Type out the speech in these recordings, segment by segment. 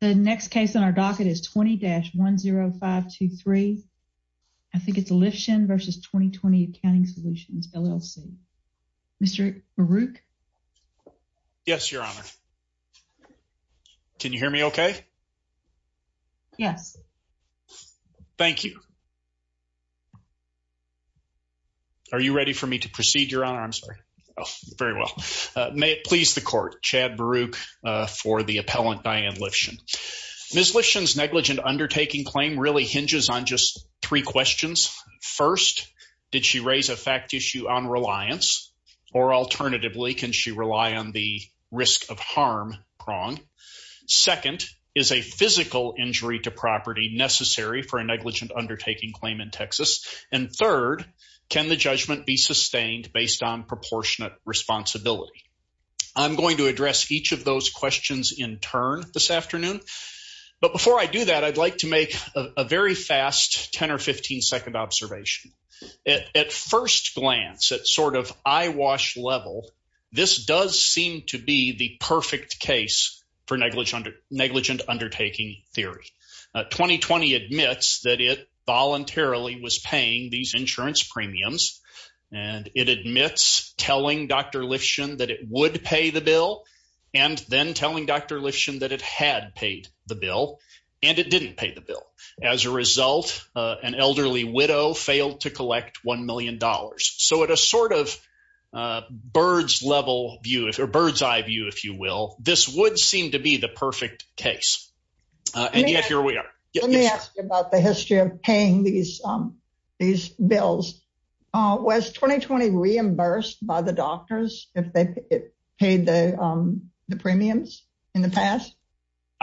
The next case on our docket is 20-10523. I think it's Lifshen v. 2020 Accounting Solutions, LLC. Mr. Baruch? Yes, Your Honor. Can you hear me okay? Yes. Thank you. Are you ready for me to proceed, Your Honor? I'm sorry. Oh, very well. May it please the Ms. Lifshen's negligent undertaking claim really hinges on just three questions. First, did she raise a fact issue on reliance? Or alternatively, can she rely on the risk of harm prong? Second, is a physical injury to property necessary for a negligent undertaking claim in Texas? And third, can the judgment be sustained based on proportionate responsibility? I'm going to address each of those questions in turn this afternoon. But before I do that, I'd like to make a very fast 10 or 15 second observation. At first glance, at sort of eyewash level, this does seem to be the perfect case for negligent undertaking theory. 20-20 admits that it voluntarily was paying these insurance premiums. And it admits telling Dr. Lifshen that it would pay the bill. And then telling Dr. Lifshen that it had paid the bill. And it didn't pay the bill. As a result, an elderly widow failed to collect $1 million. So at a sort of bird's level view, or bird's eye view, if you will, this would seem to be the perfect case. And yet here we are. Let me ask you about the history of paying these bills. Was 20-20 reimbursed by the doctors if they paid the premiums in the past?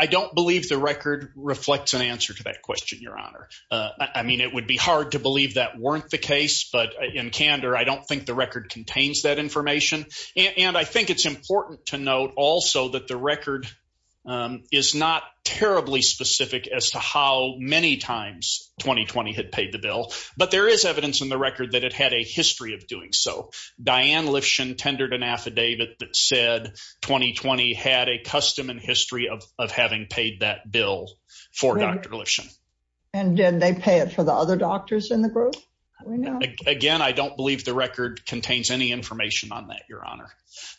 I don't believe the record reflects an answer to that question, Your Honor. I mean, it would be hard to believe that weren't the case. But in candor, I don't think the record contains that information. And I think it's important to note also that the record is not terribly specific as to how many times 20-20 had paid the bill. But there is evidence in the record that it had a history of doing so. Diane Lifshen tendered an affidavit that said 20-20 had a custom and history of having paid that bill for Dr. Lifshen. And did they pay it for the other doctors in the group? Again, I don't believe the record contains any information on that, Your Honor.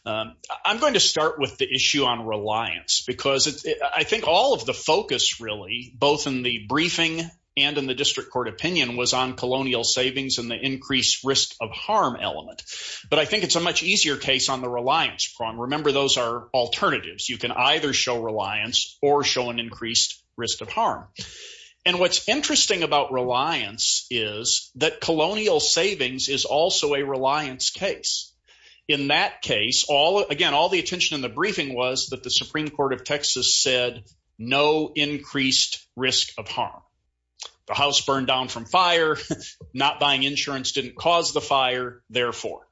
I'm going to start with the issue on reliance. Because I think all of the focus really, both in the briefing and in the district court opinion, was on colonial savings and the increased risk of harm element. But I think it's a much easier case on the reliance prong. Remember, those are alternatives. You can either show reliance or show an increased risk of harm. And what's interesting about reliance is that colonial savings is also a reliance case. In that case, again, all the attention in the briefing was that the Supreme Court of Texas said no increased risk of harm. The house burned down from fire. Not buying insurance didn't cause the fire, therefore.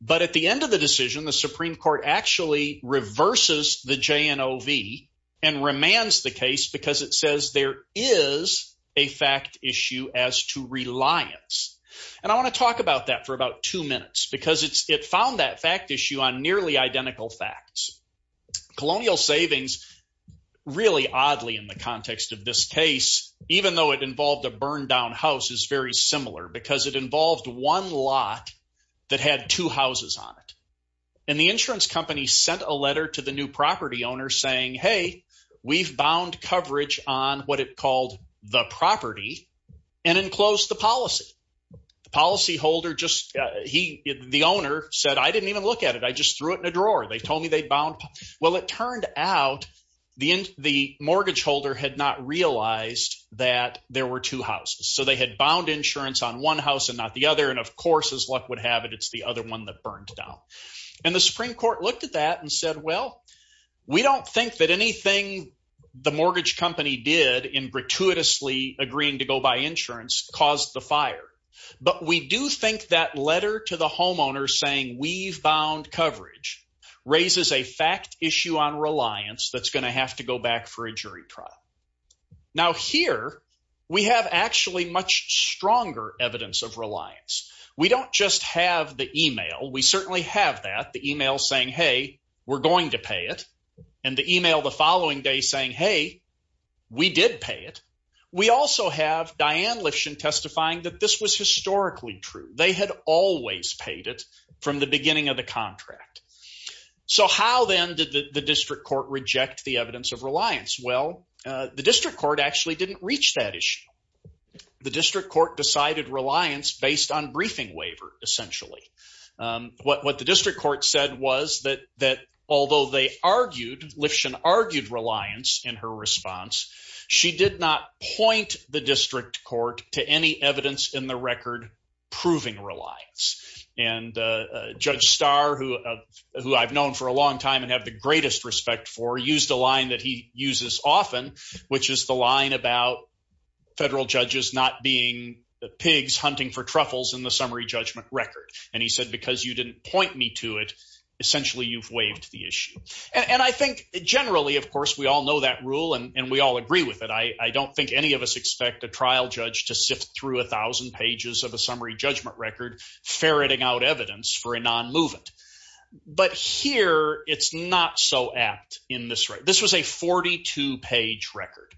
But at the end of the decision, the Supreme Court actually reverses the JNOV and remands the case because it says there is a fact issue as to reliance. And I want to talk about that for about two minutes because it found that fact issue on nearly identical facts. Colonial savings, really oddly in the context of this case, even though it involved a burned down house, is very similar because it involved one lot that had two houses on it. And the insurance company sent a letter to the new property owner saying, hey, we've bound coverage on what it called the property and enclosed the policy. The policyholder just, he, the owner said, I didn't even look at it. I just threw it in a drawer. They told me they bound. Well, it turned out the mortgage holder had not realized that there were two houses. So they had bound insurance on one house and not the other. And of course, as luck would have it, it's the other one that burned down. And the Supreme Court looked at that and said, well, we don't think that anything the mortgage company did in gratuitously agreeing to go buy insurance caused the fire. But we do think that letter to the homeowner saying we've bound coverage raises a fact issue on reliance that's going to have to go back for a jury trial. Now, here we have actually much stronger evidence of reliance. We don't just have the email. We certainly have that, the email saying, hey, we're going to pay it. And the email the following day saying, hey, we did pay it. We also have Diane Lifshin testifying that this was historically true. They had always paid it from the beginning of the contract. So how then did the district court reject the evidence of reliance? Well, the district court actually didn't reach that issue. The district court decided reliance based on briefing waiver, essentially. What the district court said was that although they argued, Lifshin argued reliance in her response, she did not point the district court to any evidence in the record proving reliance. And Judge Starr, who I've known for a long time and have the greatest respect for, used a line that he uses often, which is the line about federal judges not being pigs hunting for truffles in the summary judgment record. And he said, because you didn't point me to it, essentially you've waived the issue. And I think generally, of course, we all know that rule and we all agree with it. I don't think any of us expect a trial judge to sift through a thousand pages of a summary judgment record ferreting out evidence for a non-movement. But here, it's not so apt in this way. This was a 42 page record.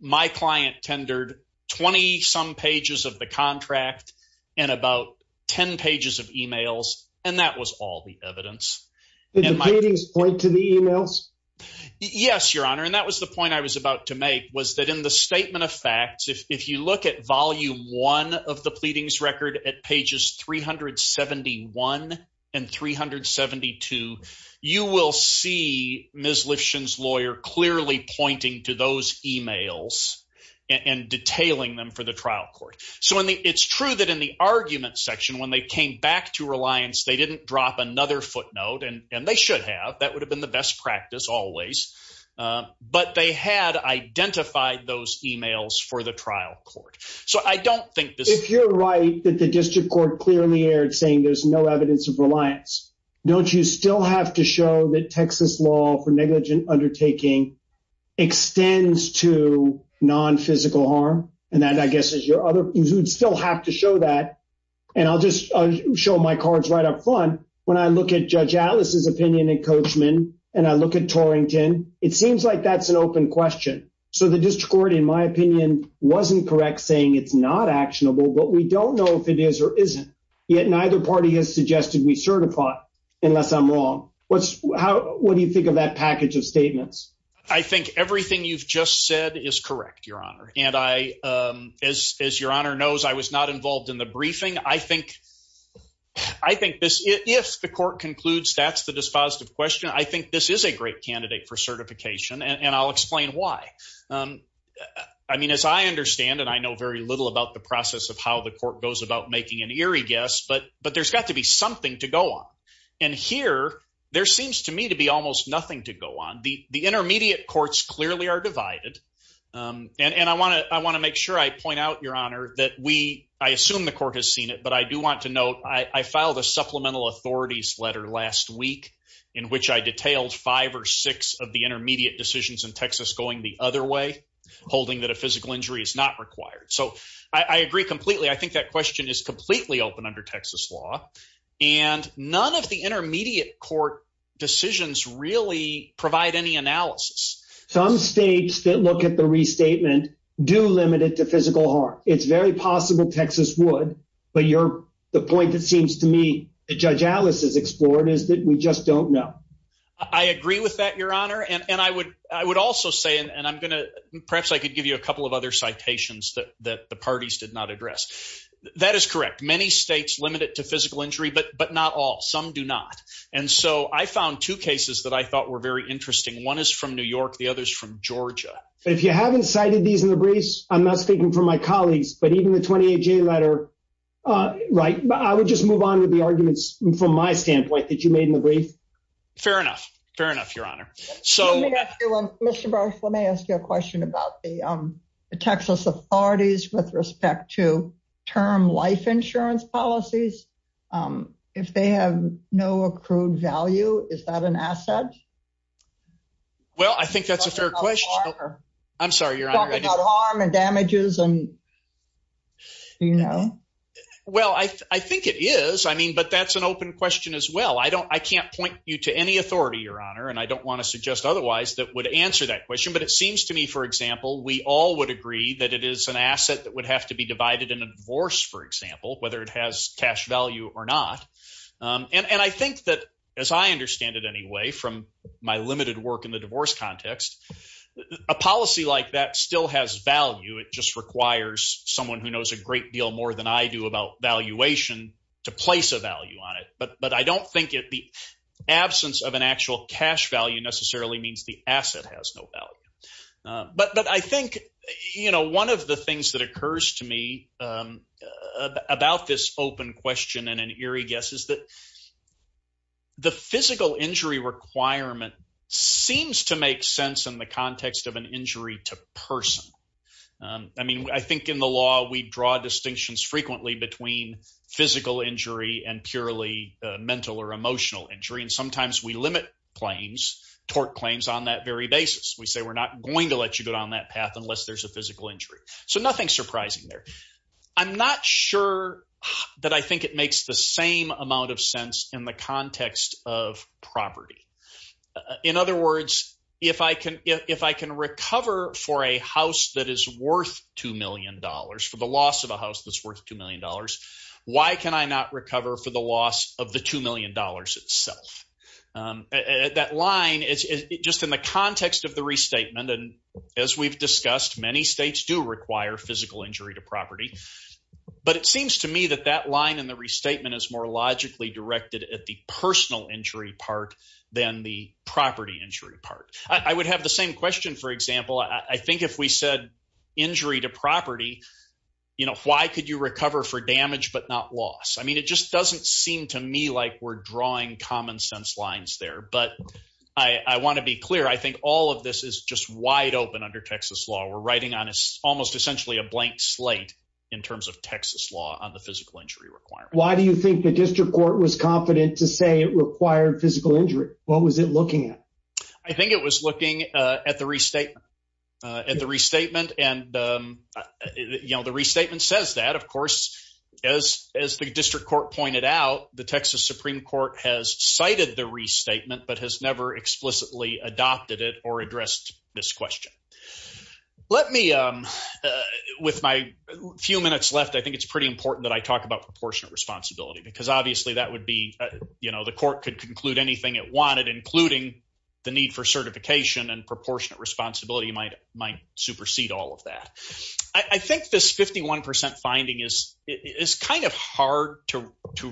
My client tendered 20 some pages of the contract and about 10 pages of emails, and that was all the evidence. Did the pleadings point to the emails? Yes, your honor. And that was the point I was about to make, was that in the statement of facts, if you look at volume one of the pleadings record at pages 371 and 372, you will see Ms. Lifshin's lawyer clearly pointing to those emails and detailing them for the trial court. So it's true that in the argument section, when they came back to reliance, they didn't drop another footnote, and they should have. That would have been the best practice always. But they had identified those emails for the trial court. So I don't think this- If you're right that the district court clearly aired saying there's no evidence of reliance, don't you still have to show that Texas law for negligent undertaking extends to non-physical harm? And that, I guess, is your other- You'd still have to show that. And I'll just show my cards right up front. When I look at Judge Atlas's opinion in Coachman, and I look at Torrington, it seems like that's an open question. So the district court, in my opinion, wasn't correct saying it's not actionable, but we don't know if it is or isn't. Yet neither party has suggested we certify, unless I'm wrong. What do you think of that package of statements? I think everything you've just said is correct, Your Honor. And as Your Honor knows, I was not involved in the briefing. I think this- If the court concludes that's the dispositive question, I think this is a great candidate for certification, and I'll explain why. I mean, as I understand, and I know very little about the process of how the court goes about making an eerie guess, but there's got to be something to go on. And here, there seems to me to be almost nothing to go on. The intermediate courts clearly are divided. And I want to make sure I point out, Your Honor, that we- I assume the court has seen it, but I do want to note, I filed a supplemental authorities letter last week in which I detailed five or six of the intermediate decisions in Texas going the other way, holding that a physical injury is not required. So I agree completely. I think that question is completely open under Texas law, and none of the intermediate court decisions really provide any analysis. Some states that look at the restatement do limit it to physical harm. It's very possible Texas would, but the point that seems to me that Judge Alice has explored is that we just don't know. I agree with that, Your Honor. And I would also say, and I'm going to- Perhaps I could give you a couple of other citations that the parties did not address. That is correct. Many states limit it to physical injury, but not all. Some do not. And so I found two cases that I thought were very interesting. One is from New York. The other is from Georgia. If you haven't cited these in the briefs, I'm not speaking for my colleagues, but even the 28-J letter, I would just move on with the arguments from my standpoint that you made in the brief. Fair enough. Fair enough, the Texas authorities with respect to term life insurance policies, if they have no accrued value, is that an asset? Well, I think that's a fair question. I'm sorry, Your Honor. Talking about harm and damages and, you know. Well, I think it is. I mean, but that's an open question as well. I can't point you to any authority, Your Honor, and I don't want to suggest otherwise that would answer that question. But it seems to me, for example, we all would agree that it is an asset that would have to be divided in a divorce, for example, whether it has cash value or not. And I think that, as I understand it anyway, from my limited work in the divorce context, a policy like that still has value. It just requires someone who knows a great deal more than I do about valuation to place a value on it. But I don't think the absence of an actual cash value necessarily means the asset has no value. But I think, you know, one of the things that occurs to me about this open question and an eerie guess is that the physical injury requirement seems to make sense in the context of an injury to person. I mean, I think in the law, we draw distinctions frequently between physical injury and purely mental or emotional injury. And sometimes we limit claims, tort claims on that very basis. We say we're not going to let you go down that path unless there's a physical injury. So nothing surprising there. I'm not sure that I think it makes the same amount of sense in the context of property. In other words, if I can recover for a house that is worth $2 million, for the loss of a house that's worth $2 million, why can I not recover for the loss of the $2 million? That line is just in the context of the restatement. And as we've discussed, many states do require physical injury to property. But it seems to me that that line in the restatement is more logically directed at the personal injury part than the property injury part. I would have the same question, for example. I think if we said injury to property, you know, why could you there? But I want to be clear. I think all of this is just wide open under Texas law. We're writing on almost essentially a blank slate in terms of Texas law on the physical injury requirement. Why do you think the district court was confident to say it required physical injury? What was it looking at? I think it was looking at the restatement. And, you know, the restatement says that, of course, as the district court pointed out, the Texas Supreme Court has cited the restatement but has never explicitly adopted it or addressed this question. Let me, with my few minutes left, I think it's pretty important that I talk about proportionate responsibility because obviously that would be, you know, the court could conclude anything it wanted, including the need for certification and proportionate responsibility might supersede all that. I think this 51% finding is kind of hard to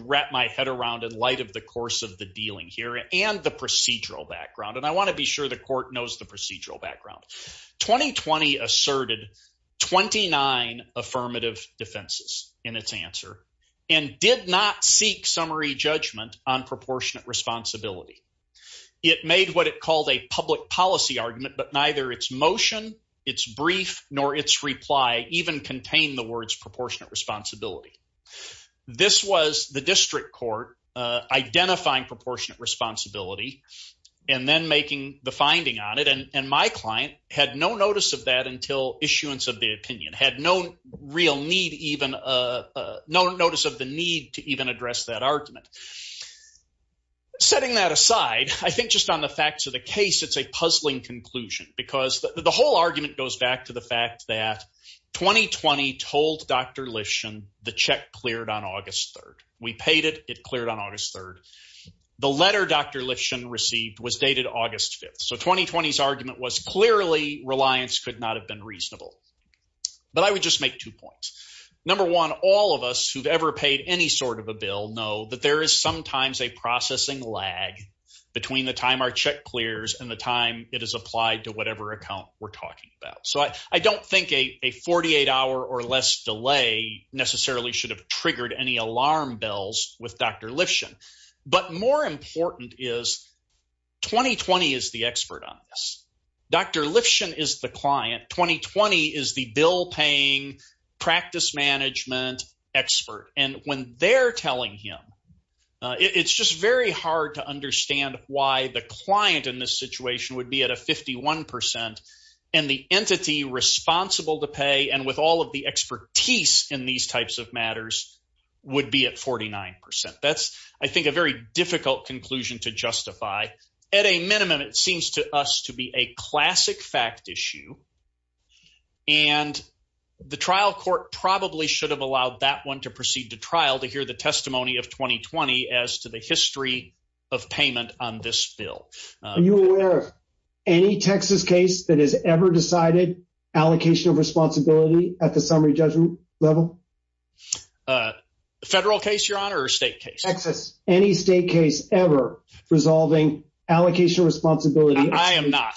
wrap my head around in light of the course of the dealing here and the procedural background. And I want to be sure the court knows the procedural background. 2020 asserted 29 affirmative defenses in its answer and did not seek summary judgment on proportionate responsibility. It made what it called a public policy argument, but neither its motion, its brief, nor its reply even contained the words proportionate responsibility. This was the district court identifying proportionate responsibility and then making the finding on it. And my client had no notice of that until issuance of the opinion, had no real need even, no notice of the need to even address that argument. Setting that aside, I think just on the facts of the case, it's a puzzling conclusion because the whole argument goes back to the fact that 2020 told Dr. Lifshin the check cleared on August 3rd. We paid it, it cleared on August 3rd. The letter Dr. Lifshin received was dated August 5th. So 2020's argument was clearly reliance could not have been reasonable. But I would just make two know that there is sometimes a processing lag between the time our check clears and the time it is applied to whatever account we're talking about. So I don't think a 48 hour or less delay necessarily should have triggered any alarm bells with Dr. Lifshin. But more important is 2020 is the expert on this. Dr. Lifshin is the client, 2020 is the bill paying practice management expert. And when they're telling him, it's just very hard to understand why the client in this situation would be at a 51 percent and the entity responsible to pay and with all of the expertise in these types of matters would be at 49 percent. That's, I think, a very difficult conclusion to justify. At a minimum, it seems to us to be a classic fact issue and the trial court probably should have allowed that one to proceed to trial to hear the testimony of 2020 as to the history of payment on this bill. Are you aware of any Texas case that has ever decided allocation of responsibility at the summary judgment level? Federal case, your honor, or state case? Texas. Any state case ever resolving allocation responsibility. I am not.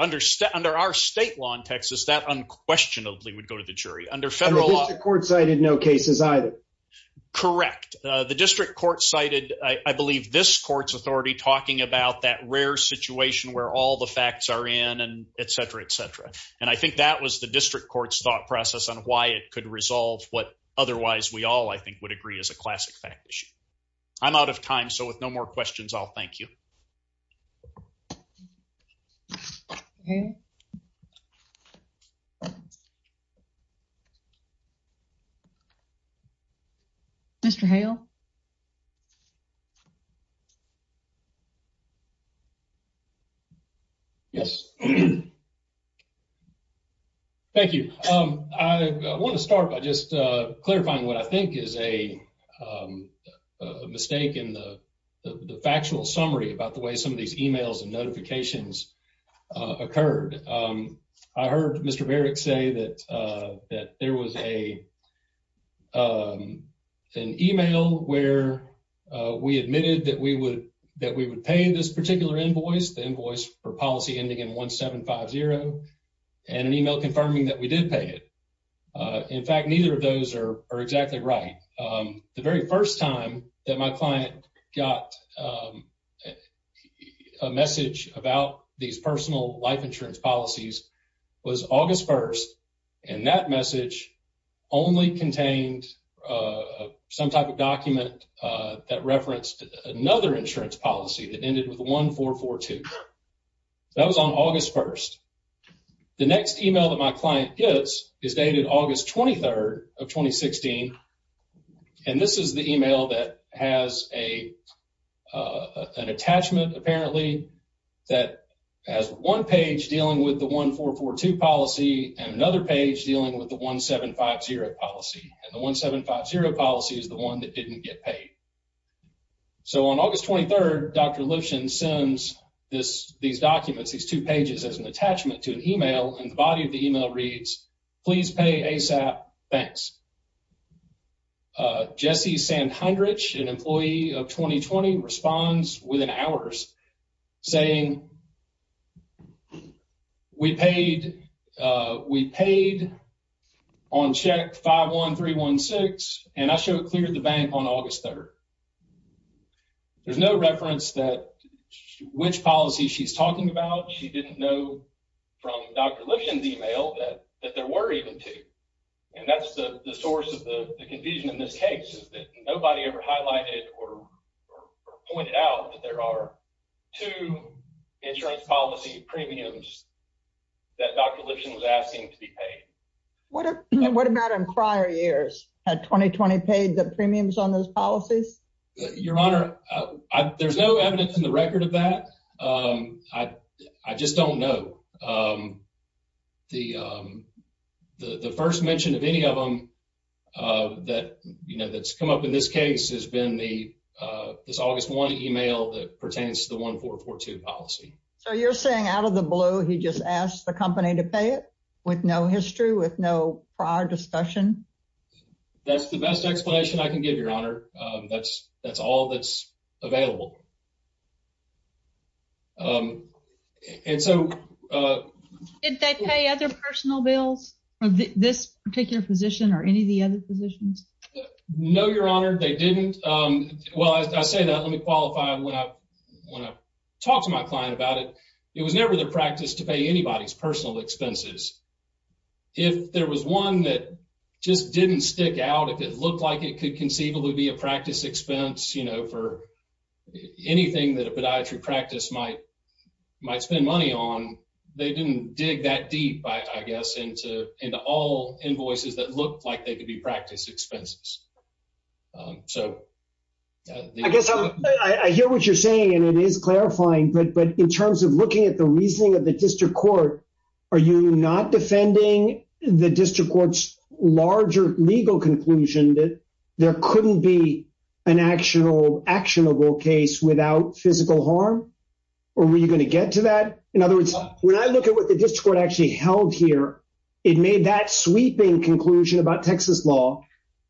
Under our state law in Texas, that unquestionably would go to the jury. The district court cited, I believe, this court's authority talking about that rare situation where all the facts are in and et cetera, et cetera. And I think that was the district court's thought process on why it could resolve what otherwise we all, I think, would agree is a classic fact issue. I'm out of time, so with no more questions, I'll thank you. Okay. Mr. Hale. Yes. Thank you. I want to start by just clarifying what I think is a mistake in the factual summary about the way some of these emails and notifications occurred. I heard Mr. Barrick say that there was an email where we admitted that we would pay this particular invoice, the invoice for policy ending in 1750, and an email confirming that we did pay it. In fact, neither of those are exactly right. The very first time that my client got a message about these personal life insurance policies was August 1st. And that message only contained some type of document that referenced another insurance policy that ended with 1442. That was on August 1st. The next email that my client gets is dated August 23rd of 2016. And this is the email that has an attachment, apparently, that has one page dealing with the 1442 policy and another page dealing with the 1750 policy. And the 1750 policy is the one that didn't get paid. So on August 23rd, Dr. Lifshin sends these documents, these two pages, as an attachment to an email, and the body of the email reads, please pay ASAP, thanks. Jesse Sandhendrich, an employee of 2020, responds within hours saying, we paid on check 51316, and I should have cleared the bank on August 3rd. There's no reference that which policy she's talking about. She didn't know from Dr. Lifshin's email that there were even two. And that's the source of the confusion in this case is that nobody ever highlighted or pointed out that there are two insurance policy premiums that Dr. Lifshin was asking to be paid. What about in prior years? Had 2020 paid the premiums on those policies? Your Honor, there's no evidence in the record of that. I just don't know. So the first mention of any of them that's come up in this case has been this August 1 email that pertains to the 1442 policy. So you're saying out of the blue, he just asked the company to pay it with no history, with no prior discussion? That's the best explanation I can give, Your Honor. That's all that's available. And so... Did they pay other personal bills of this particular position or any of the other positions? No, Your Honor, they didn't. Well, I say that, let me qualify when I talk to my client about it. It was never their practice to pay anybody's personal expenses. If there was one that just didn't stick out, if it looked like it could conceivably be a practice expense for anything that a podiatry practice might spend money on, they didn't dig that deep, I guess, into all invoices that looked like they could be practice expenses. I guess I hear what you're saying and it is clarifying, but in terms of looking at the reasoning of the district court, are you not defending the district court's larger legal conclusion that there couldn't be an actionable case without physical harm? Or were you going to get to that? In other words, when I look at what the district court actually held here, it made that sweeping conclusion about Texas law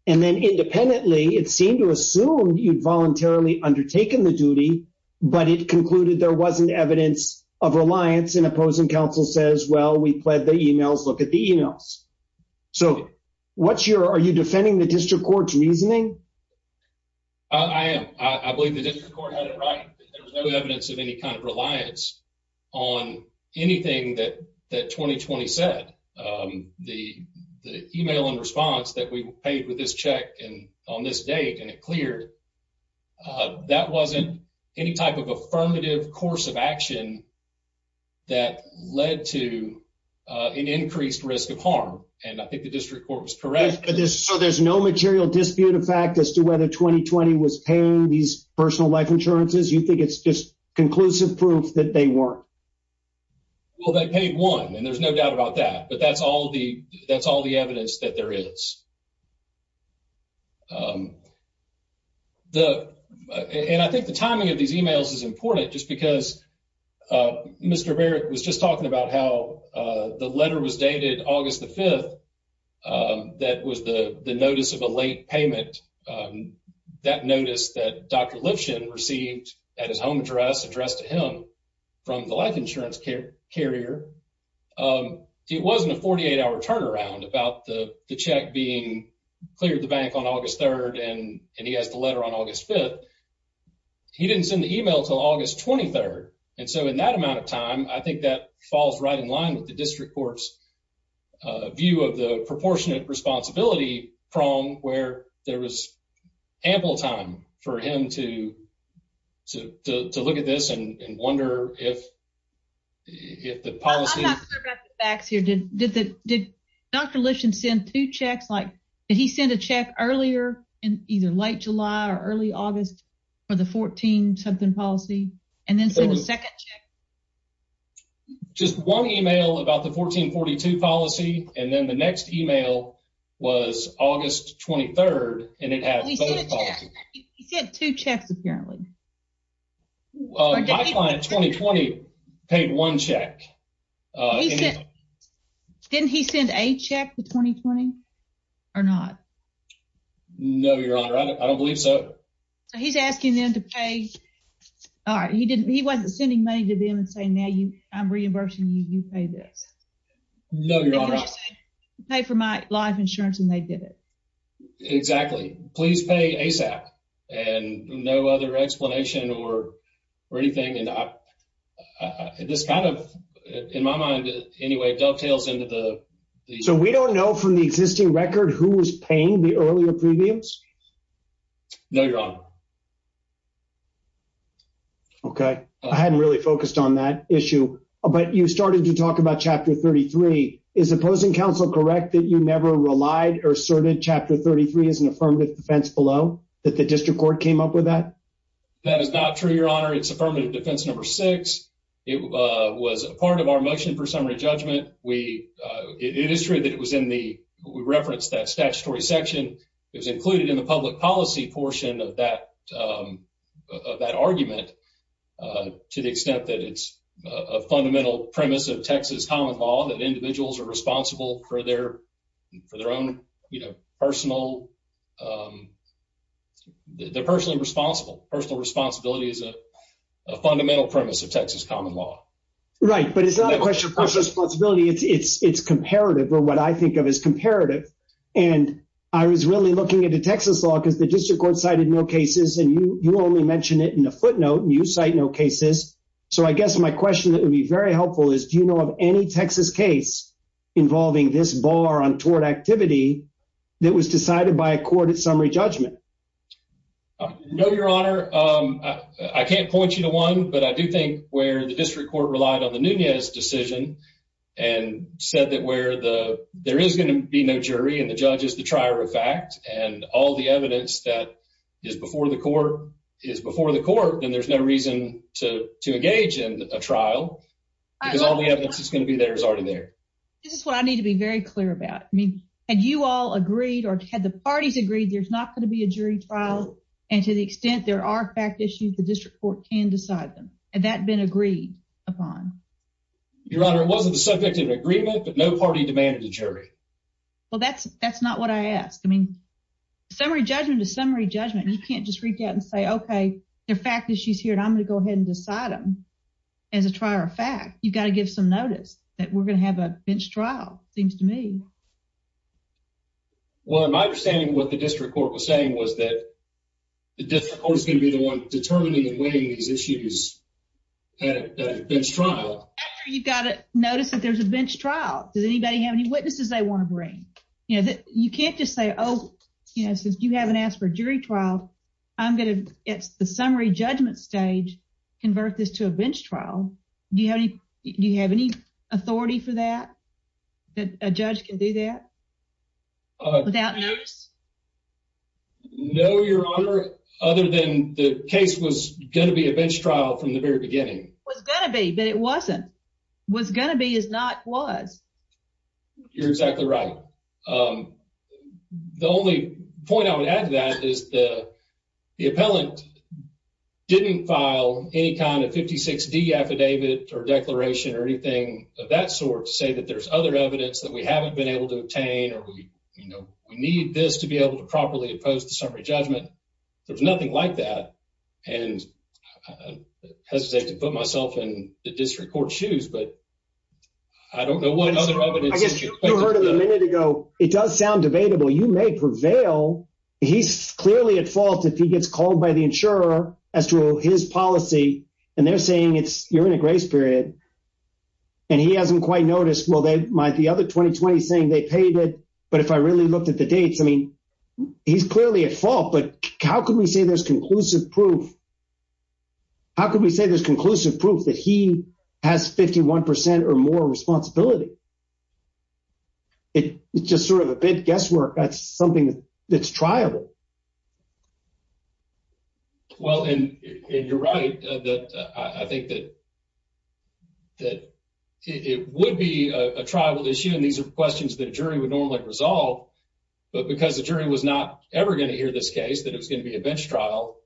and then independently, it seemed to assume you'd voluntarily undertaken the duty, but it concluded there wasn't evidence of reliance and opposing counsel says, well, we pled the emails, look at the emails. So what's your, are you defending the district court's reasoning? I am. I believe the district court had it right. There was no evidence of any kind of reliance on anything that 2020 said. The email and response that we paid with this check and on this date and it cleared, that wasn't any type of affirmative course of action that led to, uh, an increased risk of harm. And I think the district court was correct, but there's, so there's no material dispute of fact as to whether 2020 was paying these personal life insurances. You think it's just conclusive proof that they weren't? Well, they paid one and there's no doubt about that, but that's all the, that's all the evidence that there is. Um, the, and I think the timing of these emails is because, uh, Mr. Barrett was just talking about how, uh, the letter was dated August the 5th. Um, that was the notice of a late payment. Um, that notice that Dr. Lifshin received at his home address addressed to him from the life insurance carrier. Um, it wasn't a 48 hour turnaround about the check being cleared the bank on August 3rd. And he has the letter on August 5th. He didn't send the email till August 23rd. And so in that amount of time, I think that falls right in line with the district court's, uh, view of the proportionate responsibility prong where there was ample time for him to, to, to, to look at this and wonder if, if the policy. I'm not sure about the facts here. Did, did the, did Dr. Lifshin send two checks? Like, did he send a check earlier in either late July or early August for the 14 something policy? And then send a second check? Just one email about the 1442 policy. And then the next email was August 23rd. And it had two checks apparently. My client 2020 paid one check. Uh, he said, didn't he send a check to 2020 or not? No, your honor. I don't believe so. So he's asking them to pay. All right. He didn't, he wasn't sending money to them and saying, now you I'm reimbursing you, you pay this. No, your honor. I pay for my life insurance and they did it. Exactly. Please pay ASAP and no other explanation or, or anything. And I, uh, this kind of, in my mind, anyway, dovetails into the, so we don't know from the existing record, who was paying the earlier previews. No, your honor. Okay. I hadn't really focused on that issue, but you started to talk about chapter 33. Is opposing counsel correct that you never relied or asserted chapter 33 is an affirmative defense below that the district court came up with that? That is not true, your honor. It's affirmative defense number six. It was a part of our motion for summary judgment. We, uh, it is true that it was in the, we referenced that statutory section. It was included in the public policy portion of that, um, of that argument, uh, to the extent that it's a fundamental premise of Texas common law, that individuals are responsible for their, for their own, you know, personal, um, they're personally responsible. Personal responsibility is a fundamental premise of Texas common law. Right. But it's not a question of personal responsibility. It's, it's, it's comparative or what I think of as comparative. And I was really looking into Texas law because the district court cited no cases and you, you only mentioned it in a footnote and you cite no cases. So I guess my question that would be very helpful is, do you know of a case that was decided by a court at summary judgment? No, your honor. Um, I can't point you to one, but I do think where the district court relied on the Nunez decision and said that where the, there is going to be no jury and the judge is the trier of fact, and all the evidence that is before the court is before the court, then there's no reason to, to engage in a trial because all the evidence is going to be there is already there. This is what I need to be very clear about. I mean, had you all agreed or had the parties agreed, there's not going to be a jury trial. And to the extent there are fact issues, the district court can decide them. Had that been agreed upon? Your honor, it wasn't a subjective agreement, but no party demanded a jury. Well, that's, that's not what I asked. I mean, summary judgment is summary judgment. You can't just reach out and say, okay, they're fact issues here and I'm going to go ahead and decide them as a trier of fact, you've got to give some notice that we're going to have a bench trial seems to me. Well, my understanding of what the district court was saying was that the district court is going to be the one determining and winning these issues at a bench trial. You've got to notice that there's a bench trial. Does anybody have any witnesses they want to bring? You know, you can't just say, oh, you know, since you haven't asked for a jury trial, I'm going to, it's the summary judgment stage, convert this to a bench trial. Do you have any, do you have any authority for that? That a judge can do that without notice? No, your honor, other than the case was going to be a bench trial from the very beginning. Was going to be, but it wasn't. Was going to be is not was. You're exactly right. Um, the only point I would add to that is the, the appellant didn't file any kind of 56 D affidavit or declaration or anything of that sort to say that there's other evidence that we haven't been able to obtain, or we, you know, we need this to be able to properly oppose the summary judgment. There's nothing like that. And I hesitate to put myself in the district court shoes, but I don't know what other evidence you heard a minute ago. It does sound debatable. You may prevail. He's clearly at fault. If he gets called by the insurer as to his policy and they're saying it's you're in a grace period and he hasn't quite noticed, well, they might the other 2020 saying they paid it. But if I really looked at the dates, I mean, he's clearly at fault, but how could we say there's conclusive proof? How can we say there's conclusive proof that he has 51% or more responsibility? It's just sort of a big guesswork. That's something that's triable. Well, and you're right that I think that that it would be a tribal issue. And these are questions that a jury would normally resolve, but because the jury was not ever going to hear this case, that it was gonna be a bench trial.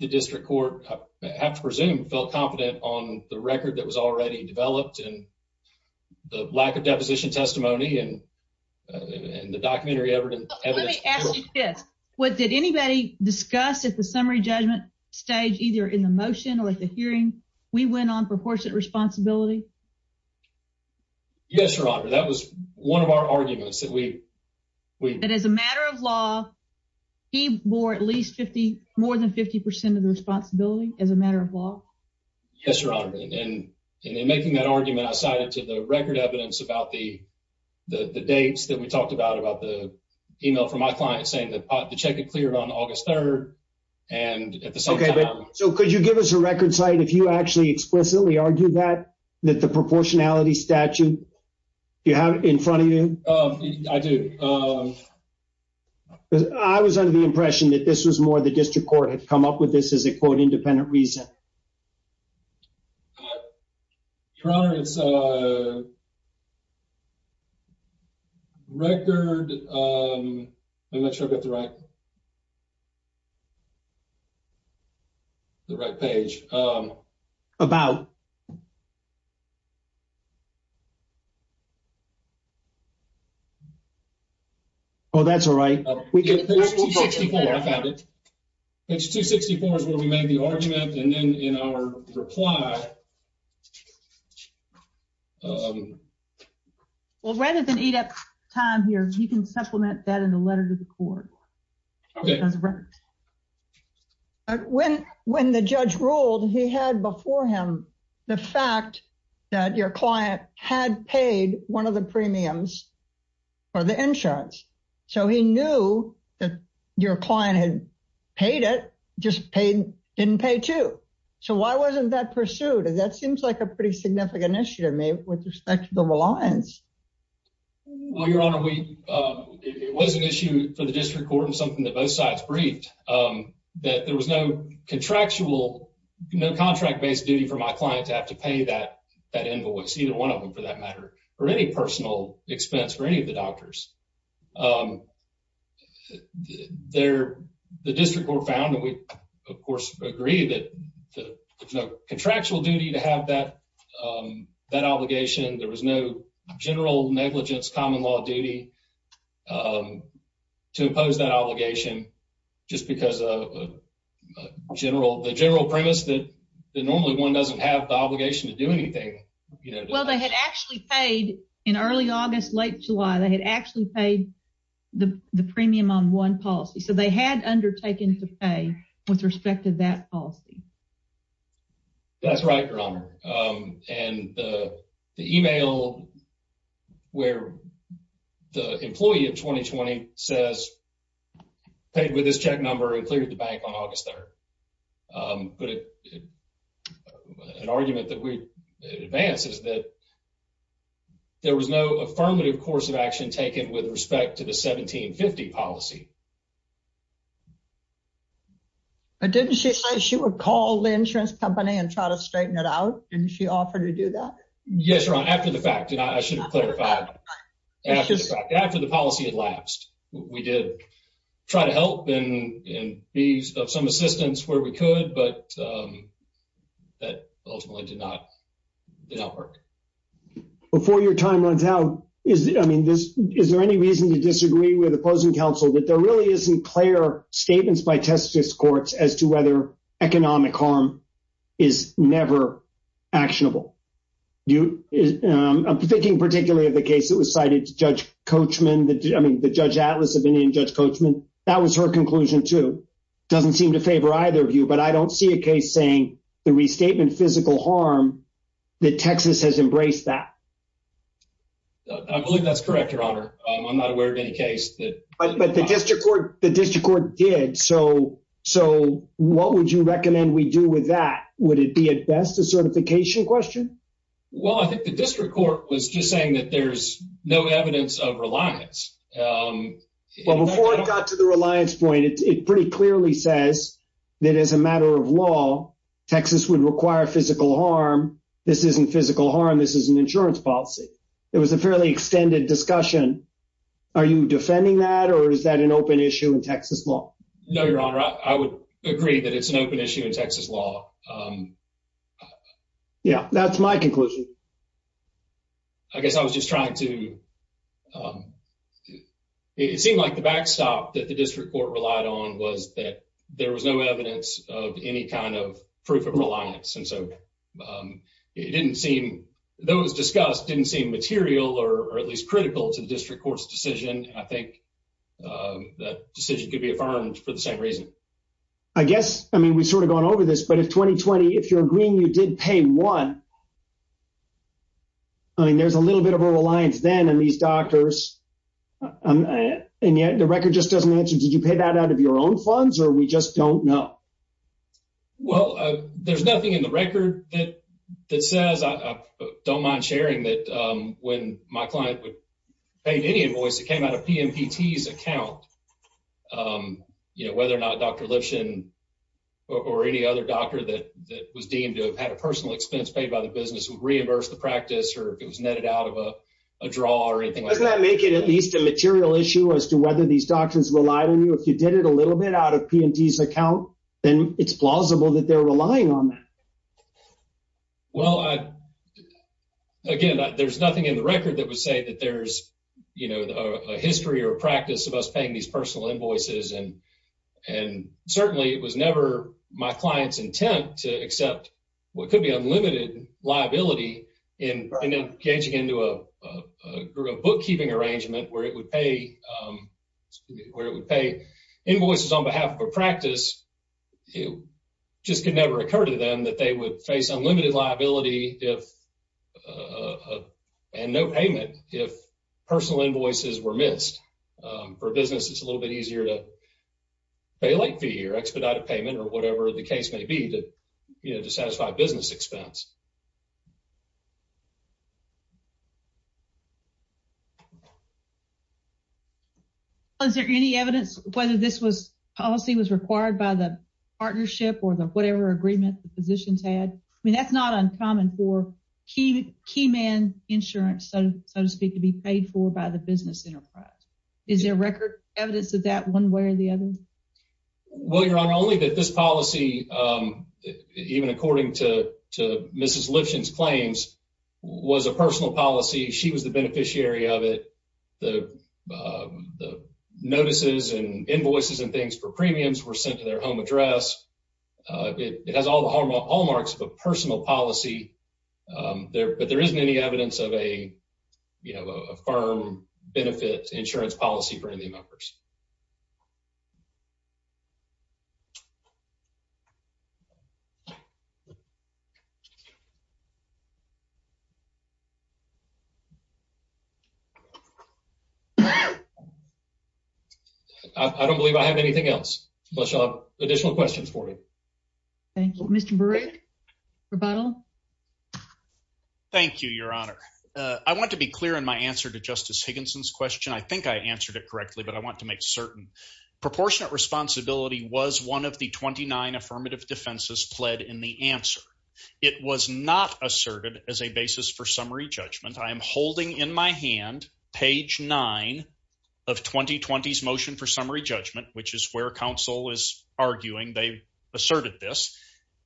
The district court, I have to presume, felt confident on the record that was already developed in the lack of deposition testimony and in the documentary evidence. What did anybody discuss at the summary judgment stage, either in the motion or the hearing? We went on proportionate responsibility. Yes, your honor. That was one of our arguments that we... That as a matter of law, he bore at least 50, more than 50% of the responsibility as a matter of law? Yes, your honor. And in making that argument, I cited to the record evidence about the dates that we talked about, about the email from my client saying that the check had cleared on August 3rd and at the same time... Okay, so could you give us a record site if you actually explicitly argue that, that the proportionality statute you have in front of you? I do. I was under the impression that this was more the district court had come up with this as a quote independent reason. Your honor, it's a record... I'm not sure I've got the right... The right page. About... Oh, that's all right. Page 264, I found it. Page 264 is where we made the argument and then in our reply... Well, rather than eat up time here, you can supplement that in the letter to the court. Okay. When the judge ruled, he had before him the fact that your client had paid one of the premiums for the insurance. So he knew that your client had paid it, just didn't pay two. So why wasn't that pursued? That seems like a pretty significant issue to me with respect to the reliance. Well, your honor, it was an issue for the district court and something that both sides briefed, that there was no contractual, no contract based duty for my client to have to pay that invoice, either one of them for that matter, or any personal expense for any of the doctors. The district court found that we of course agree that there's no contractual duty to have that obligation. There was no general negligence common law duty to impose that obligation, just because the general premise that normally one doesn't have the obligation to do anything. Well, they had actually paid in early August, late July, they had actually paid the premium on one policy. So they had undertaken to pay with respect to that policy. That's right, your honor. And the email where the employee of 2020 says, paid with this check number and cleared the bank on August 3rd. But an argument that we advance is that there was no affirmative course of action taken with respect to the 1750 policy. But didn't she say she would call the insurance company and try to straighten it out? Didn't she offer to do that? Yes, your honor, after the fact, and I should clarify. After the policy had lapsed, we did try to help and be of some assistance where we could, but that ultimately did not work. Before your time runs out, is there any reason to disagree with opposing counsel that there really isn't clear statements by testis courts as to whether economic harm is never actionable? I'm thinking particularly of the case that was cited to Judge Coachman, I mean, the Judge Atlas opinion, Judge Coachman, that was her conclusion too. Doesn't seem to favor either view, but I don't see a case saying the restatement physical harm that Texas has embraced that. I believe that's correct, your honor. I'm not aware of any case but the district court did. So what would you recommend we do with that? Would it be at best a certification question? Well, I think the district court was just saying that there's no evidence of reliance. Well, before it got to the reliance point, it pretty clearly says that as a matter of law, Texas would require physical harm. This isn't physical harm, this is an insurance policy. It was a fairly extended discussion. Are you defending that or is that an open issue in Texas law? No, your honor. I would agree that it's an open issue in Texas law. Yeah, that's my conclusion. I guess I was just trying to, it seemed like the backstop that the district court relied on was that there was no evidence of any kind of proof of reliance. And so it didn't seem, those discussed didn't seem material or at least critical to the district court's decision. I think that decision could be affirmed for the same reason. I guess, I mean, we've sort of gone over this, but if 2020, if you're agreeing you did pay one, I mean, there's a little bit of a reliance then on these doctors. And yet the record just doesn't answer. Did you pay that out of your own funds or we just don't know? Well, there's nothing in the record that says, I don't mind sharing that when my client would pay any invoice that came out of PMPT's account, you know, whether or not Dr. Lipshin or any other doctor that was deemed to have had a personal expense paid by the business would reimburse the practice or if it was netted out of a draw or anything like that. Doesn't that make it at least a material issue as to whether these doctors relied on you? If you did it a little bit out of PMPT's account, then it's plausible that they're relying on that. Well, again, there's nothing in the record that would say that there's, you know, a history or a practice of us paying these personal invoices. And certainly it was never my client's intent to accept what could be unlimited liability in engaging into a bookkeeping arrangement where it would pay where it would pay invoices on behalf of a practice. It just could never occur to them that they would face unlimited liability if and no payment if personal invoices were missed. For business, it's a little bit easier to pay late fee or expedited payment or whatever the Is there any evidence whether this was policy was required by the partnership or the whatever agreement the positions had? I mean, that's not uncommon for key key man insurance, so to speak, to be paid for by the business enterprise. Is there record evidence of that one way or the other? Well, Your Honor, only that this policy, even according to Mrs. Lifshin's claims, was a personal policy. She was the beneficiary of it. The the notices and invoices and things for premiums were sent to their home address. It has all the hallmarks of a personal policy there. But there isn't any evidence of a, you know, a firm benefit insurance policy for any members. I don't believe I have anything else, but you'll have additional questions for me. Mr. Barrett, rebuttal. Thank you, Your Honor. I want to be clear in my answer to Justice Higginson's question. I think I answered it correctly, but I want to make certain proportionate responsibility was one of the 29 affirmative defenses pled in the answer. It was not asserted as a basis for summary judgment. I am holding in my hand page nine of 2020 motion for summary judgment, which is where counsel is arguing they asserted this,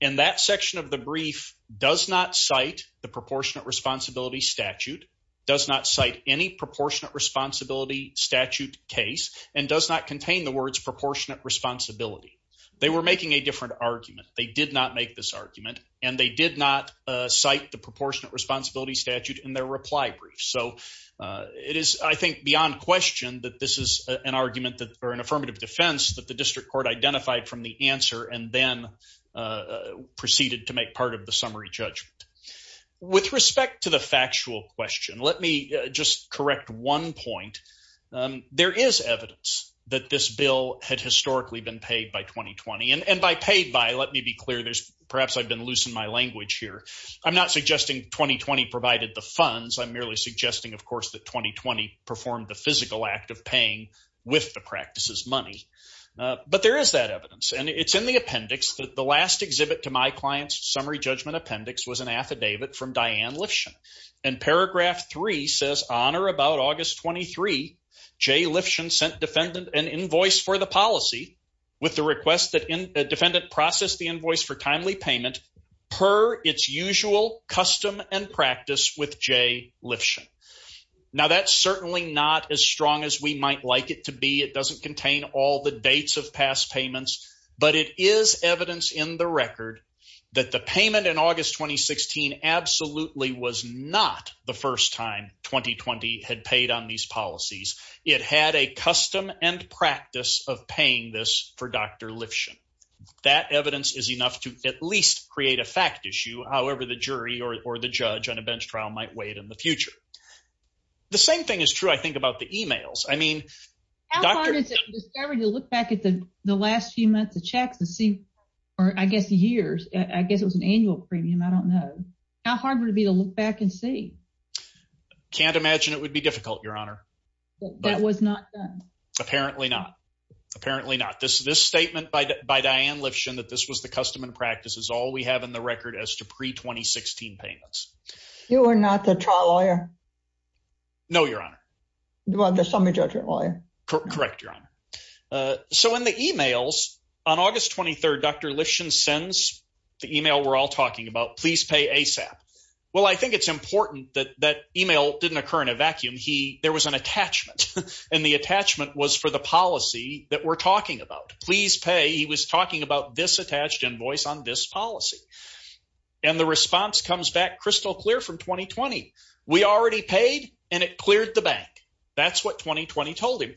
and that section of the brief does not cite the proportionate responsibility statute, does not cite any proportionate responsibility statute case, and does not contain the words proportionate responsibility. They were making a different argument. They did not make this argument, and they did not cite the proportionate responsibility statute in their reply brief. So it is, I think, beyond question that this is an argument that, or an affirmative defense, that the district court identified from the answer and then proceeded to make part of the summary judgment. With respect to the factual question, let me just correct one point. There is evidence that this bill had historically been paid by 2020, and by paid by, let me be clear, perhaps I've been losing my language here. I'm not suggesting 2020 provided the funds. I'm merely suggesting, of course, that 2020 performed the physical act of paying with the practice's money. But there is that evidence, and it's in the appendix. The last exhibit to my client's summary judgment appendix was an affidavit from Diane Lifshin, and paragraph three says, on or about August 23, Jay Lifshin sent defendant an invoice for the policy with the request that defendant process the invoice for timely payment per its usual custom and practice with Jay Lifshin. Now, that's certainly not as strong as we might like it to be. It doesn't contain all the dates of past payments, but it is evidence in the record that the payment in August 2016 absolutely was not the first time 2020 had paid on these policies. It had a custom and practice of paying this for Dr. Lifshin. That evidence is enough to at least create a fact issue. However, the jury or the judge on a bench trial might wait in the future. The same thing is true, I think, about the emails. I mean, how hard is it to look back at the last few months of checks to see, or I guess years, I guess it was an annual premium. I don't know. How hard would it be to look back and see? Can't imagine it would be difficult, Your Honor. That was not done. Apparently not. Apparently not. This statement by Diane Lifshin that this the custom and practice is all we have in the record as to pre-2016 payments. You are not the trial lawyer. No, Your Honor. Well, the summary judgment lawyer. Correct, Your Honor. So, in the emails on August 23rd, Dr. Lifshin sends the email we're all talking about, please pay ASAP. Well, I think it's important that that email didn't occur in a vacuum. There was an attachment, and the attachment was for the policy that we're talking about. Please pay. He was asking for an attached invoice on this policy, and the response comes back crystal clear from 2020. We already paid, and it cleared the bank. That's what 2020 told him,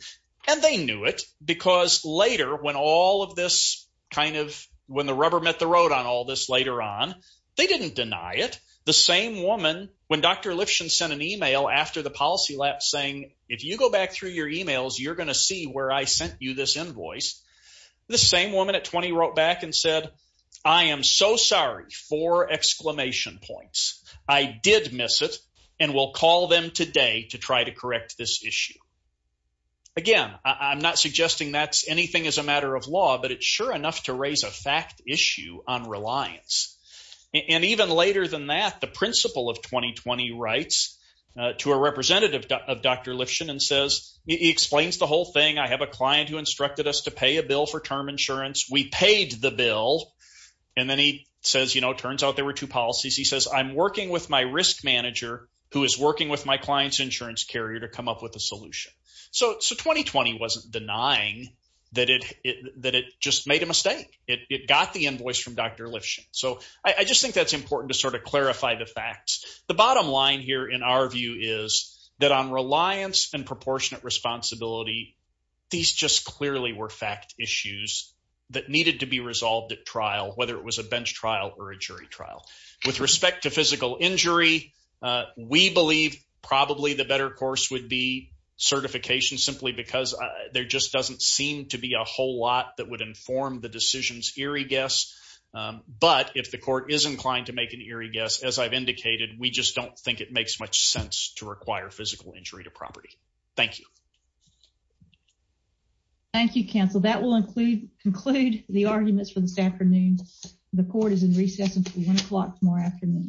and they knew it because later when all of this kind of, when the rubber met the road on all this later on, they didn't deny it. The same woman, when Dr. Lifshin sent an email after the policy lapse saying, if you go back through your emails, you're going to see where I sent you this invoice, the same woman at 20 wrote back and said, I am so sorry for exclamation points. I did miss it, and we'll call them today to try to correct this issue. Again, I'm not suggesting that's anything as a matter of law, but it's sure enough to raise a fact issue on reliance, and even later than that, the principle of 2020 writes to a representative of Dr. Lifshin and says, he explains the whole thing. I have a bill, and then he says, you know, turns out there were two policies. He says, I'm working with my risk manager who is working with my client's insurance carrier to come up with a solution. So 2020 wasn't denying that it just made a mistake. It got the invoice from Dr. Lifshin, so I just think that's important to sort of clarify the facts. The bottom line here in our view is that on reliance and proportionate responsibility, these just clearly were fact issues that needed to be resolved at trial, whether it was a bench trial or a jury trial. With respect to physical injury, we believe probably the better course would be certification simply because there just doesn't seem to be a whole lot that would inform the decision's eerie guess, but if the court is inclined to make an eerie guess, as I've indicated, we just don't think it makes much sense to require arguments for this afternoon. The court is in recess until one o'clock tomorrow afternoon.